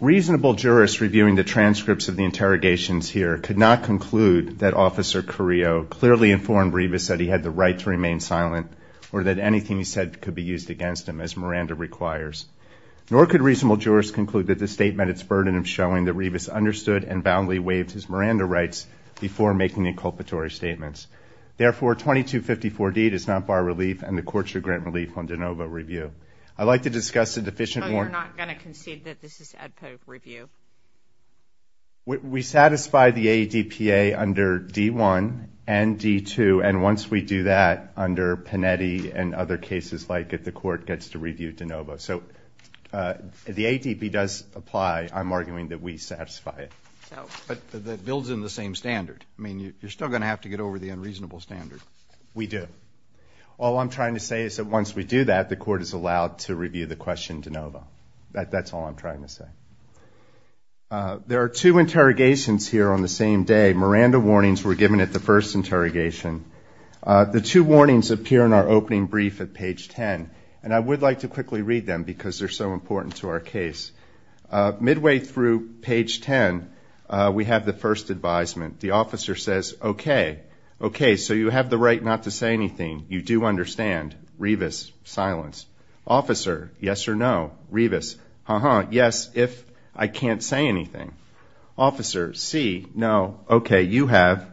Reasonable jurists reviewing the transcripts of the interrogations here could not conclude that officer Carrillo clearly informed Rivas that he had the right to remain silent or that anything he said could be used against him as Miranda requires nor could reasonable jurists conclude that the statement its burden of showing that Rivas understood and we're making a culpatory statements. Therefore, 2254 D does not bar relief and the court should grant relief on de novo review. I'd like to discuss the deficient. We're not going to concede that this is a review. We satisfy the ADPA under D1 and D2. And once we do that under Panetti and other cases like it, the court gets to review de novo. So the ADP does apply. I'm arguing that we satisfy it. But that builds in the same standard. I mean, you're still going to have to get over the unreasonable standard. We do. All I'm trying to say is that once we do that, the court is allowed to review the question de novo. That's all I'm trying to say. There are two interrogations here on the same day. Miranda warnings were given at the first interrogation. The two warnings appear in our opening brief at page 10. And I would like to quickly read them because they're so important to our case. Midway through page 10, we have the first advisement. The officer says, okay, okay, so you have the right not to say anything. You do understand. Revis, silence. Officer, yes or no. Revis, uh-huh, yes, if I can't say anything. Officer, see, no, okay, you have,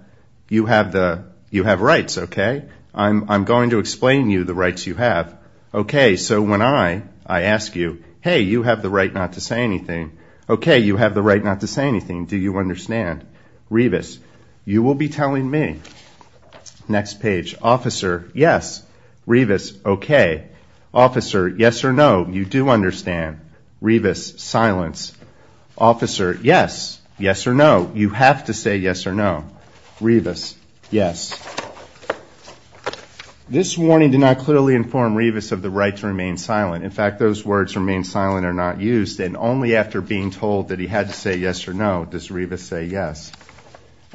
you have the, you have rights, okay. I'm going to explain to you the rights you have. Okay, so when I, I ask you, hey, you have the right not to say anything. Okay, you have the right not to say anything. Do you understand? Revis, you will be telling me. Next page. Officer, yes. Revis, okay. Officer, yes or no. You do understand. Revis, silence. Officer, yes. Yes or no. You have to say yes or no. Revis, yes. This warning did not clearly inform Revis of the right to remain silent. In fact, those words remain silent and are not used. And only after being told that he had to say yes or no does Revis say yes.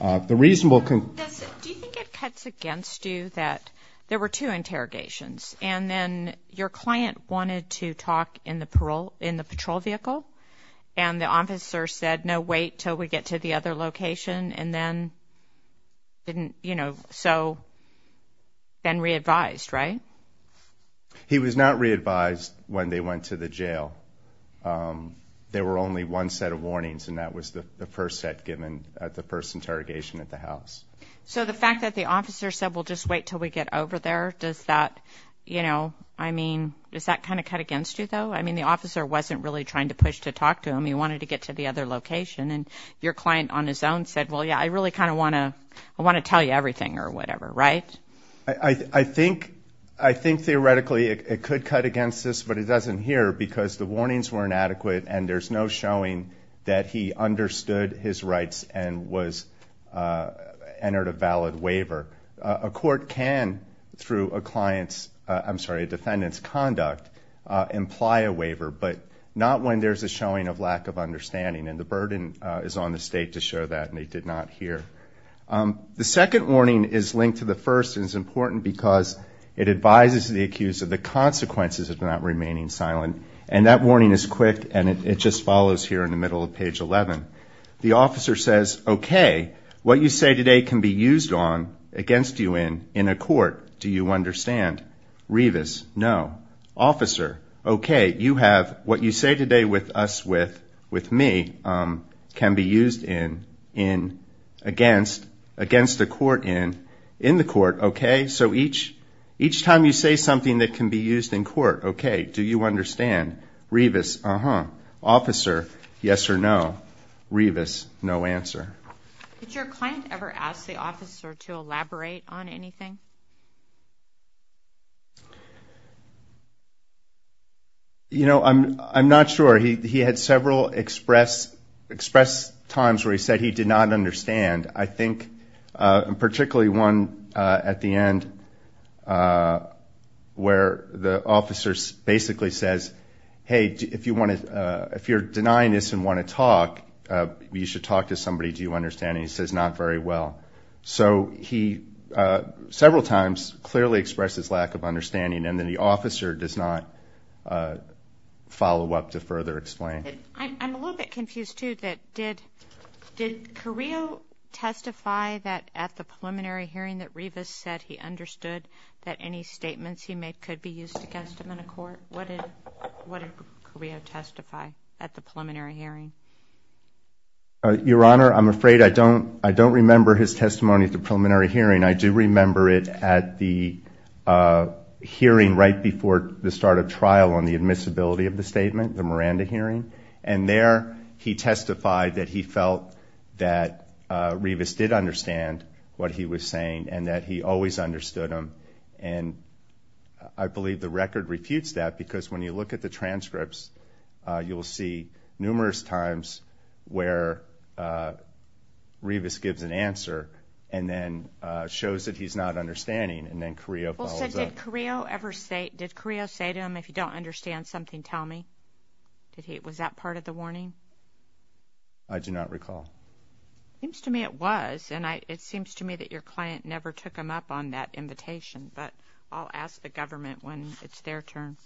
Do you think it cuts against you that there were two interrogations, and then your client wanted to talk in the patrol vehicle, and the officer said, no, wait until we get to the other location, and then didn't, you know, so then re-advised, right? He was not re-advised when they went to the jail. There were only one set of warnings, and that was the first set given at the first interrogation at the house. So the fact that the officer said, well, just wait until we get over there, does that, you know, I mean, does that kind of cut against you, though? I mean, the officer wasn't really trying to push to talk to him. He wanted to get to the other location, and your client on his own said, well, yeah, I really kind of want to tell you everything or whatever, right? I think theoretically it could cut against this, but it doesn't here because the warnings were inadequate, and there's no showing that he understood his rights and entered a valid waiver. A court can, through a client's, I'm sorry, a defendant's conduct, imply a waiver, but not when there's a showing of lack of understanding, and the burden is on the state to show that, and they did not here. The second warning is linked to the first and is important because it advises the accused that the consequences of not remaining silent, and that warning is quick, and it just follows here in the middle of page 11. The officer says, okay, what you say today can be used on, against you in, in a court, do you understand? Revis, no. Officer, okay, you have, what you say today with us, with me, can be used in, in, against, against the court in, in the court, okay? So each, each time you say something that can be used in court, okay, do you understand? Revis, uh-huh. Officer, yes or no. Revis, no answer. Did your client ever ask the officer to elaborate on anything? You know, I'm, I'm not sure. He, he had several express, express times where he said he did not understand. I think, and particularly one at the end where the officer basically says, hey, if you want to, if you're denying this and want to talk, you should talk to somebody, do you understand, and he says not very well. So he, uh, several times clearly expressed his lack of understanding and then the officer does not, uh, follow up to further explain. I'm, I'm a little bit confused too that did, did Carrillo testify that at the preliminary hearing that Revis said he understood that any statements he made could be used against him in a court? What did, what did Carrillo testify at the preliminary hearing? Your Honor, I'm afraid I don't, I don't remember his testimony at the preliminary hearing. I do remember it at the hearing right before the start of trial on the admissibility of the statement, the Miranda hearing, and there he testified that he felt that Revis did understand what he was saying and that he always understood him. And I believe the record refutes that because when you look at the transcripts, uh, you will see numerous times where, uh, Revis gives an answer and then, uh, shows that he's not understanding and then Carrillo follows up. Well, so did Carrillo ever say, did Carrillo say to him, if you don't understand something, tell me? Did he, was that part of the warning? I do not recall. It seems to me it was, and I, it seems to me that your client never took him up on that invitation, but I'll ask the government when it's their turn.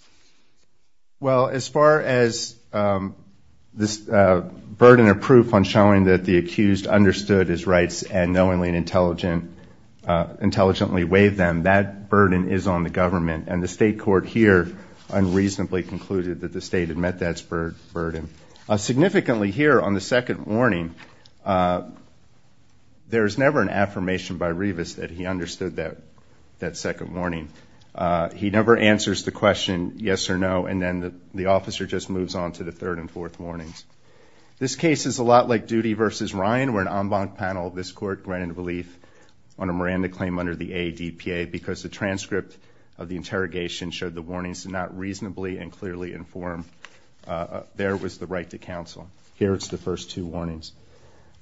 Well, as far as, um, this, uh, burden of proof on showing that the accused understood his rights and knowingly and intelligent, uh, intelligently waived them, that burden is on the government and the state court here unreasonably concluded that the state had met that burden. Significantly here on the second warning, uh, there is never an affirmation by Revis that he understood that, that second warning. Uh, he never answers the question, yes or no, and then the, the officer just moves on to the third and fourth warnings. This case is a lot like Duty v. Ryan where an en banc panel of this court ran into belief on a Miranda claim under the ADPA because the transcript of the interrogation showed the warnings to not reasonably and clearly informed, uh, their witnesses. It was the right to counsel. Here it's the first two warnings.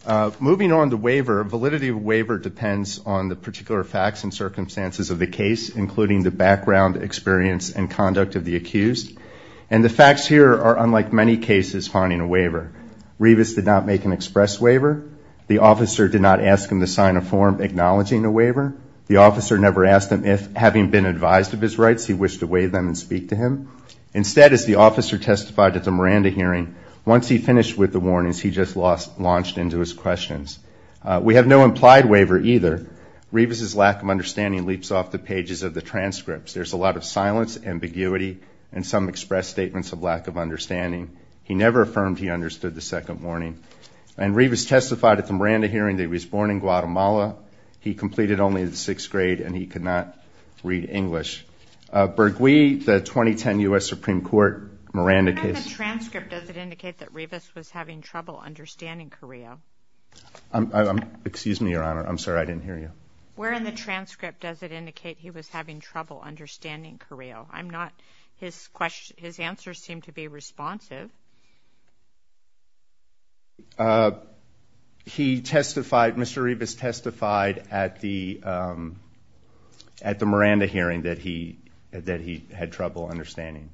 Uh, moving on to waiver, validity of waiver depends on the particular facts and circumstances of the case, including the background experience and conduct of the accused. And the facts here are unlike many cases finding a waiver. Revis did not make an express waiver. The officer did not ask him to sign a form acknowledging a waiver. The officer never asked him if, having been advised of his rights, he wished to waive them and speak to him. Instead, as the officer testified at the Miranda hearing, once he finished with the warnings, he just lost, launched into his questions. Uh, we have no implied waiver either. Revis's lack of understanding leaps off the pages of the transcripts. There's a lot of silence, ambiguity, and some express statements of lack of understanding. He never affirmed he understood the second warning. And Revis testified at the Miranda hearing that he was born in Guatemala, he completed only the sixth grade, and he could not read English. Uh, Bergouis, the 2010 U.S. Supreme Court Miranda case. Where in the transcript does it indicate that Revis was having trouble understanding Carrillo? I'm, I'm, excuse me, Your Honor. I'm sorry, I didn't hear you. Where in the transcript does it indicate he was having trouble understanding Carrillo? I'm not, his question, his answers seem to be responsive. Uh, he testified, Mr. Revis testified at the, um, at the Miranda hearing that he, that he had trouble understanding,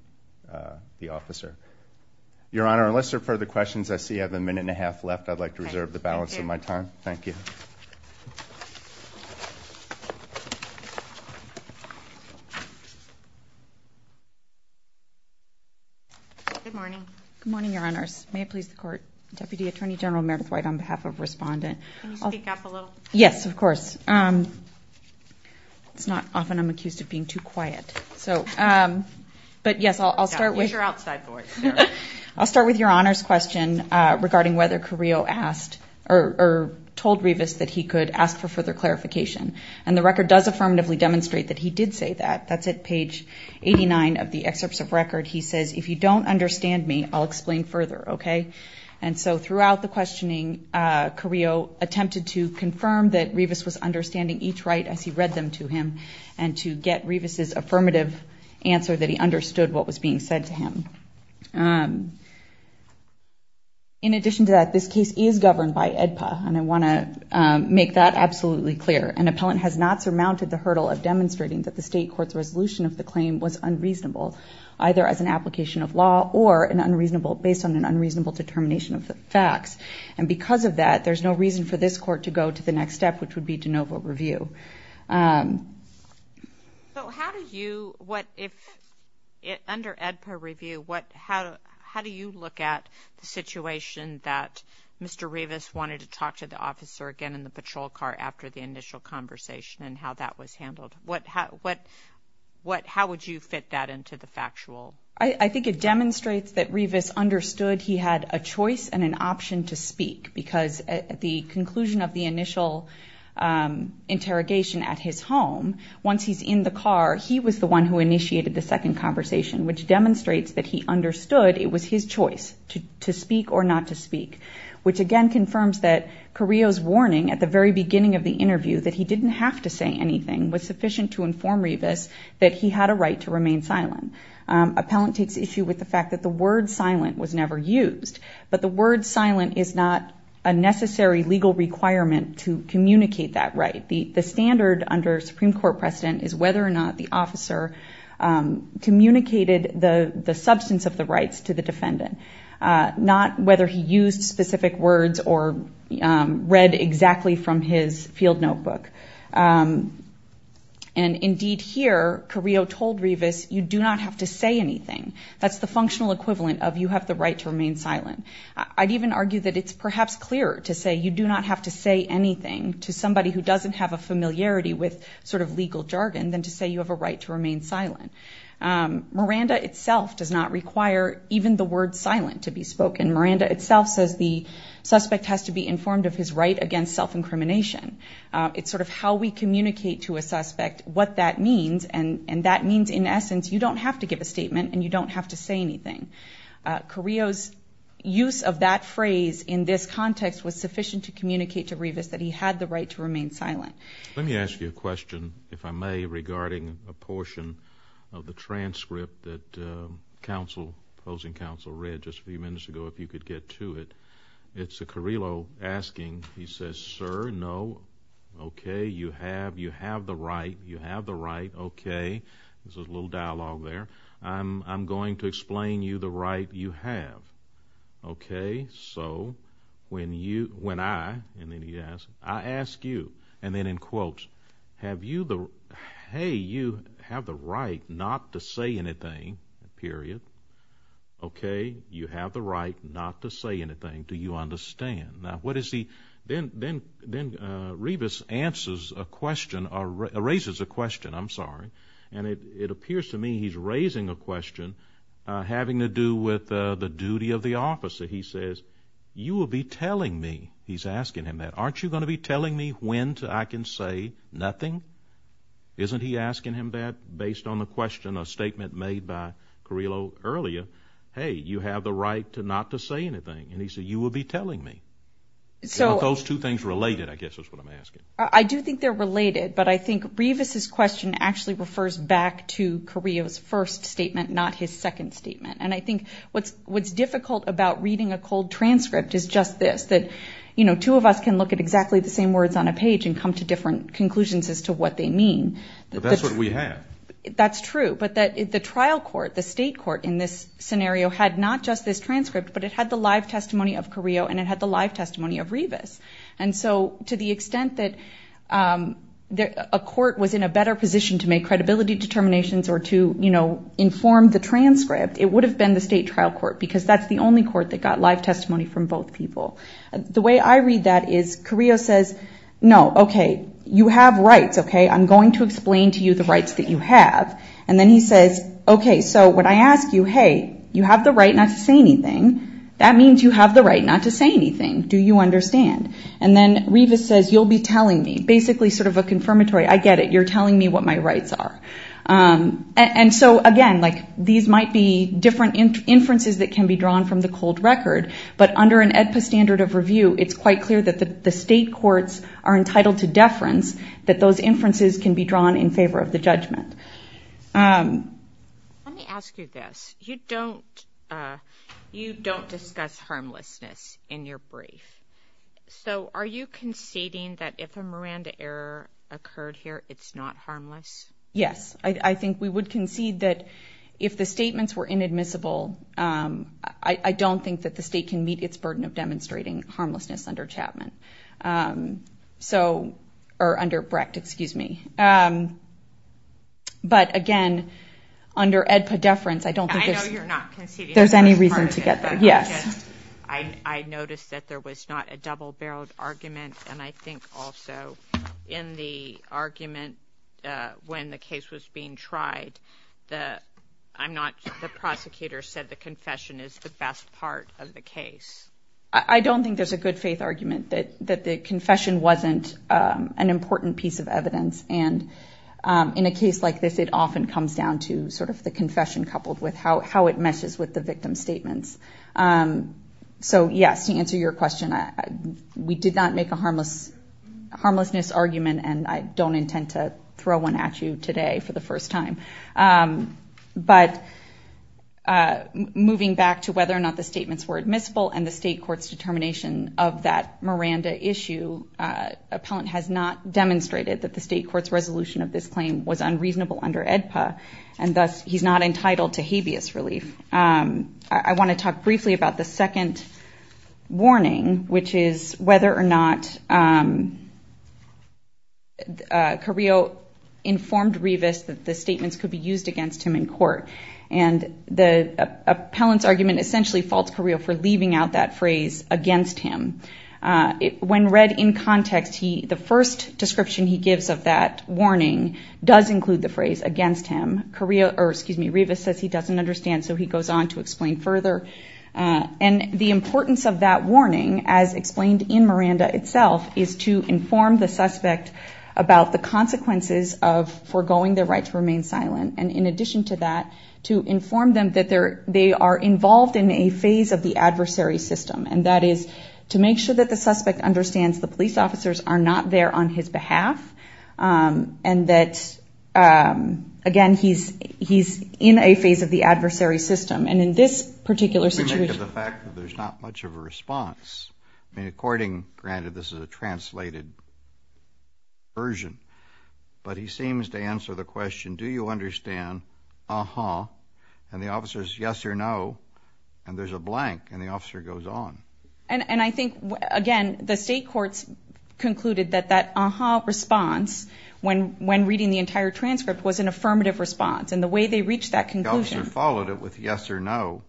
uh, the officer. Your Honor, unless there are further questions, I see I have a minute and a half left. I'd like to reserve the balance of my time. Thank you. Good morning. Good morning, Your Honors. May it please the Court. Deputy Attorney General Meredith White on behalf of Respondent. Can you speak up a little? Yes, of course. It's not often I'm accused of being too quiet, so, um, but yes, I'll, I'll start with. Use your outside voice. I'll start with Your Honor's question, uh, regarding whether Carrillo asked or, or told Revis that he could ask for further clarification. And the record does affirmatively demonstrate that he did say that. That's at page 89 of the excerpts of record. He says, if you don't understand me, I'll explain further. Okay? And so throughout the questioning, uh, Carrillo attempted to confirm that Revis was understanding each right as he read them to him, and to get Revis's affirmative answer that he understood what was being said to him. Um, in addition to that, this case is governed by AEDPA. And I want to, um, make that absolutely clear. An appellant has not surmounted the hurdle of demonstrating that the State Court's resolution of the claim was unreasonable, either as an application of law or an unreasonable, based on an unreasonable determination of the facts. And because of that, there's no reason for this Court to go to the next step, which would be de novo review. So how do you, what if, under AEDPA review, what, how do you look at the situation that Mr. Revis wanted to talk to the officer again in the patrol car after the initial conversation and how that was handled? What, how would you fit that into the factual? I think it demonstrates that Revis understood he had a choice and an option to speak, because at the conclusion of the initial, um, interrogation at his home, once he's in the car, he was the one who initiated the second conversation, which demonstrates that he understood it was his choice to speak or not to speak, which again confirms that Carrillo's warning at the very beginning of the interview that he didn't have to say anything was sufficient to inform Revis that he had a right to remain silent. Um, appellant takes issue with the fact that the word silent was never used, but the word silent is not a necessary legal requirement to communicate that right. The, the standard under Supreme Court precedent is whether or not the officer, um, communicated the substance of the rights to the defendant, uh, not whether he used specific words or, um, read exactly from his field notebook. Um, and indeed here, Carrillo told Revis, you do not have to say anything. That's the functional equivalent of you have the right to remain silent. I'd even argue that it's perhaps clearer to say you do not have to say anything to somebody who doesn't have a familiarity with sort of legal jargon than to say you have a right to remain silent. Um, Miranda itself does not require even the word silent to be spoken. Miranda itself says the suspect has to be informed of his right against self-incrimination. Uh, it's sort of how we communicate to a suspect what that means. And, and that means in essence, you don't have to give a statement and you don't have to say anything. Uh, Carrillo's use of that phrase in this context was sufficient to communicate to Revis that he had the right to remain silent. Let me ask you a question, if I may, regarding a portion of the transcript that, um, counsel, opposing counsel read just a few minutes ago, if you could get to it. It's a Carrillo asking, he says, sir, no, okay, you have, you have the right, you have the right, okay. There's a little dialogue there. I'm, I'm going to explain you the right you have. Okay, so, when you, when I, and then he asks, I ask you, and then in quotes, have you the, hey, you have the right not to say anything, period. Okay, you have the right not to say anything. Do you understand? Now, what is he, then, then, then, uh, Revis answers a question, erases a question, I'm sorry. And it, it appears to me he's raising a question, uh, having to do with, uh, the duty of the officer. He says, you will be telling me, he's asking him that, aren't you going to be telling me when to, I can say nothing? Isn't he asking him that based on the question, a statement made by Carrillo earlier? Hey, you have the right to not to say anything. And he said, you will be telling me. Are those two things related, I guess is what I'm asking. I do think they're related, but I think Revis's question actually refers back to Carrillo's first statement, not his second statement. And I think what's, what's difficult about reading a cold transcript is just this, that, you know, the two of us can look at exactly the same words on a page and come to different conclusions as to what they mean. But that's what we have. That's true. But that the trial court, the state court in this scenario had not just this transcript, but it had the live testimony of Carrillo and it had the live testimony of Revis. And so to the extent that, um, a court was in a better position to make credibility determinations or to, you know, inform the transcript, it would have been the state trial court because that's the only court that got live testimony from both people. The way I read that is Carrillo says, no, okay, you have rights. Okay. I'm going to explain to you the rights that you have. And then he says, okay. So when I ask you, hey, you have the right not to say anything. That means you have the right not to say anything. Do you understand? And then Revis says, you'll be telling me basically sort of a confirmatory. I get it. You're telling me what my rights are. And so again, like these might be different inferences that can be drawn from the cold record, but under an AEDPA standard of review, it's quite clear that the state courts are entitled to deference, that those inferences can be drawn in favor of the judgment. Let me ask you this. You don't discuss harmlessness in your brief. So are you conceding that if a Miranda error occurred here, it's not harmless? Yes. I think we would concede that if the statements were inadmissible, I don't think that the state can meet its burden of demonstrating harmlessness under Chapman. Or under Brecht, excuse me. But again, under AEDPA deference, I don't think there's any reason to get there. I noticed that there was not a double-barreled argument. And I think also in the argument when the case was being tried, the prosecutor said the confession is the best part of the case. I don't think there's a good faith argument that the confession wasn't an important piece of evidence. And in a case like this, it often comes down to sort of the confession, coupled with how it meshes with the victim's statements. So yes, to answer your question, we did not make a harmlessness argument, and I don't intend to throw one at you today for the first time. But moving back to whether or not the statements were admissible and the state court's determination of that Miranda issue, appellant has not demonstrated that the state court's resolution of this claim was unreasonable under AEDPA, and thus he's not entitled to habeas relief. I want to talk briefly about the second warning, which is whether or not Carrillo informed Revis that the statements could be used against him in court. And the appellant's argument essentially faults Carrillo for leaving out that phrase, against him. When read in context, the first description he gives of that warning does include the phrase, against him. Revis says he doesn't understand, so he goes on to explain further. And the importance of that warning, as explained in Miranda itself, is to inform the suspect about the consequences of foregoing their right to remain silent, and in addition to that, to inform them that they are involved in a phase of the adversary system, and that is to make sure that the suspect understands the police officers are not there on his behalf, and that, again, he's in a phase of the adversary system, and in this particular situation... We make of the fact that there's not much of a response. I mean, according, granted, this is a translated version, but he seems to answer the question, do you understand, uh-huh, and the officer says yes or no, and there's a blank, and the officer goes on. And I think, again, the state courts concluded that that uh-huh response, when reading the entire transcript, was an affirmative response, and the way they reached that conclusion... The officer followed it with yes or no.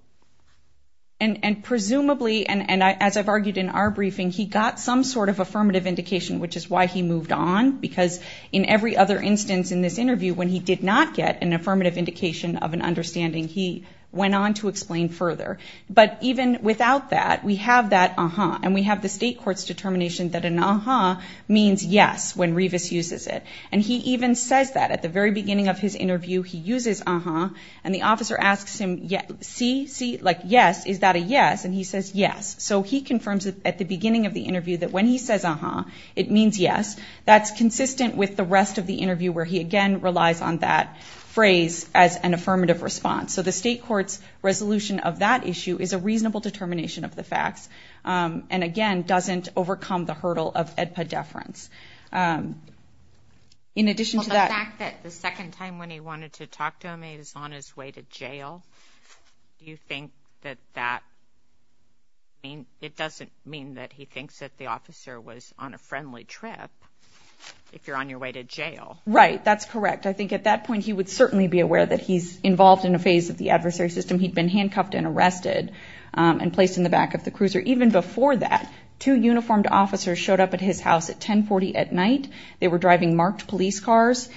And presumably, and as I've argued in our briefing, he got some sort of affirmative indication, which is why he moved on, because in every other instance in this interview, when he did not get an affirmative indication of an understanding, he went on to explain further, but even without that, we have that uh-huh, and we have the state court's determination that an uh-huh means yes when Revis uses it, and he even says that. At the very beginning of his interview, he uses uh-huh, and the officer asks him, see, see, like, yes, is that a yes, and he says yes. So he confirms at the beginning of the interview that when he says uh-huh, it means yes. That's consistent with the rest of the interview, where he, again, relies on that phrase as an affirmative response. So the state court's resolution of that issue is a reasonable determination of the facts, and, again, doesn't overcome the hurdle of AEDPA deference. In addition to that... When he wanted to talk to him, he was on his way to jail. It doesn't mean that he thinks that the officer was on a friendly trip, if you're on your way to jail. Right, that's correct. I think at that point, he would certainly be aware that he's involved in a phase of the adversary system. He'd been handcuffed and arrested and placed in the back of the cruiser. Even before that, two uniformed officers showed up at his house at 1040 at night. They were driving marked police cars.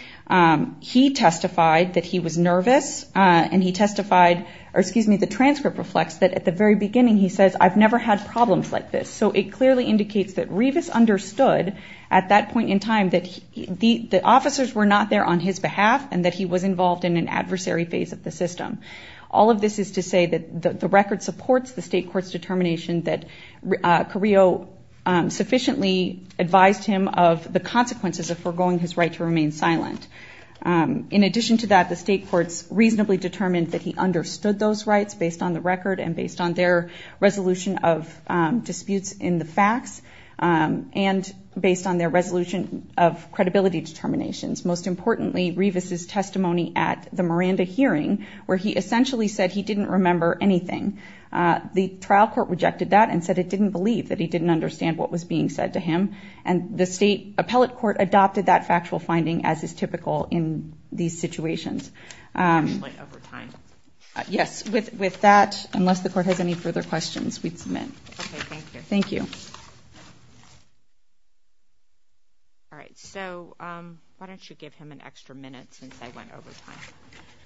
He testified that he was nervous, and he testified, or excuse me, the transcript reflects that at the very beginning, he says, I've never had problems like this. So it clearly indicates that Rivas understood at that point in time that the officers were not there on his behalf and that he was involved in an adversary phase of the system. All of this is to say that the record supports the state court's determination that Carrillo sufficiently advised him of the consequences of foregoing his right to remain silent. In addition to that, the state courts reasonably determined that he understood those rights based on the record and based on their resolution of disputes in the facts, and based on their resolution of credibility determinations. Most importantly, Rivas' testimony at the Miranda hearing, where he essentially said he didn't remember anything, the trial court rejected that and said it didn't believe that he didn't understand what was being said to him, and the state appellate court adopted that factual finding as is typical in these situations. Yes, with that, unless the court has any further questions, we'd submit. Okay, thank you. All right, so why don't you give him an extra minute since I went over time.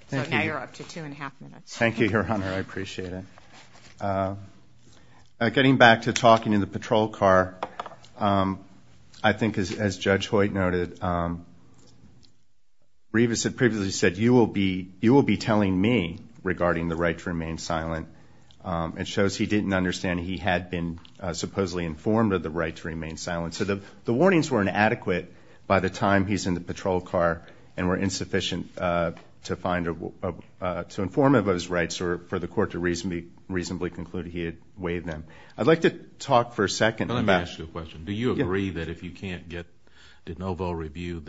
So now you're up to two and a half minutes. Thank you, Your Honor, I appreciate it. Getting back to talking in the patrol car, I think as Judge Hoyt noted, Rivas had previously said, you will be telling me regarding the right to remain silent, and it shows he didn't understand he had been supposedly informed of the right to remain silent. So the warnings were inadequate by the time he's in the patrol car and were insufficient to inform of those rights or for the court to reasonably conclude he had waived them. I'd like to talk for a second. Let me ask you a question. Do you agree that if you can't get de novo review,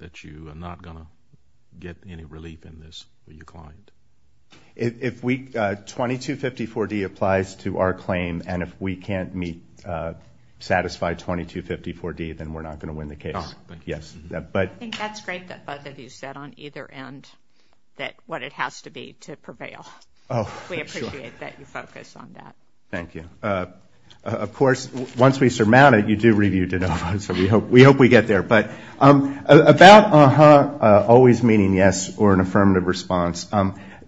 that you are not going to get any relief in this for your client? 2254D applies to our claim, and if we can't satisfy 2254D, then we're not going to win the case. I think that's great that both of you said on either end what it has to be to prevail. We appreciate that you focus on that. Thank you. Of course, once we surmount it, you do review de novo, so we hope we get there. But about uh-huh, always meaning yes, or an affirmative response,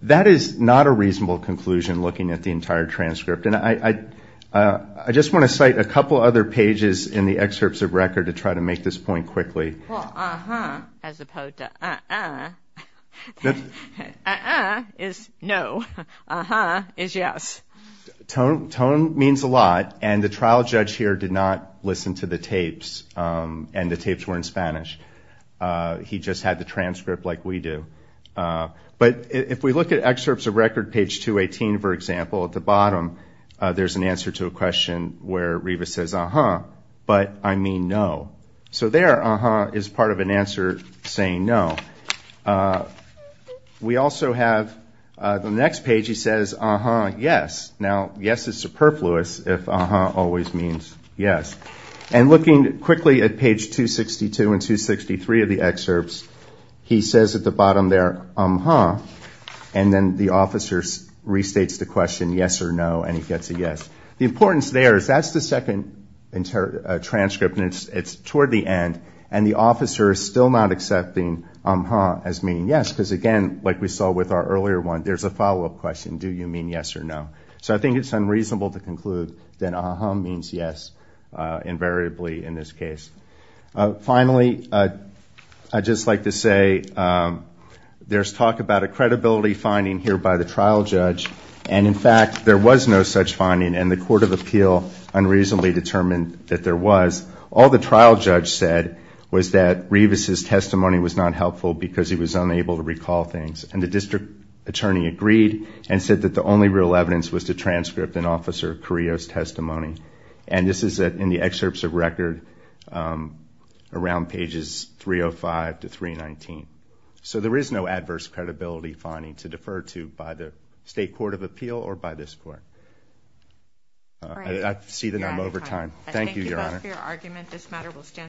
that is not a reasonable conclusion looking at the entire transcript. And I just want to cite a couple other pages in the excerpts of record to try to make this point quickly. Well, uh-huh as opposed to uh-uh. Uh-uh is no. Uh-huh is yes. Tone means a lot, and the trial judge here did not listen to the tapes, and the tapes were in Spanish. He just had the transcript like we do. But if we look at excerpts of record, page 218, for example, at the bottom, there's an answer to a question where Reva says, uh-huh, but I mean no. So there, uh-huh is part of an answer saying no. We also have the next page, he says, uh-huh, yes. Now, yes is superfluous if uh-huh always means yes. And looking quickly at page 262 and 263 of the excerpts, he says at the bottom there, uh-huh, and then the officer restates the question, yes or no, and he gets a yes. The importance there is that's the second transcript, and it's toward the end, and the officer is still not accepting uh-huh as meaning yes, because again, like we saw with our earlier one, there's a follow-up question, do you mean yes or no. So I think it's unreasonable to conclude that uh-huh means yes invariably in this case. Finally, I'd just like to say there's talk about a credibility finding here by the trial judge, and in fact there was no such finding, and the court of appeal unreasonably determined that there was. All the trial judge said was that Reva's testimony was not helpful because he was unable to recall things, and the district attorney agreed and said that the only real evidence was the transcript in Officer Carrillo's testimony. And this is in the excerpts of record around pages 305 to 319. So there is no adverse credibility finding to defer to by the state court of appeal or by this court. I see that I'm over time. Thank you, Your Honor.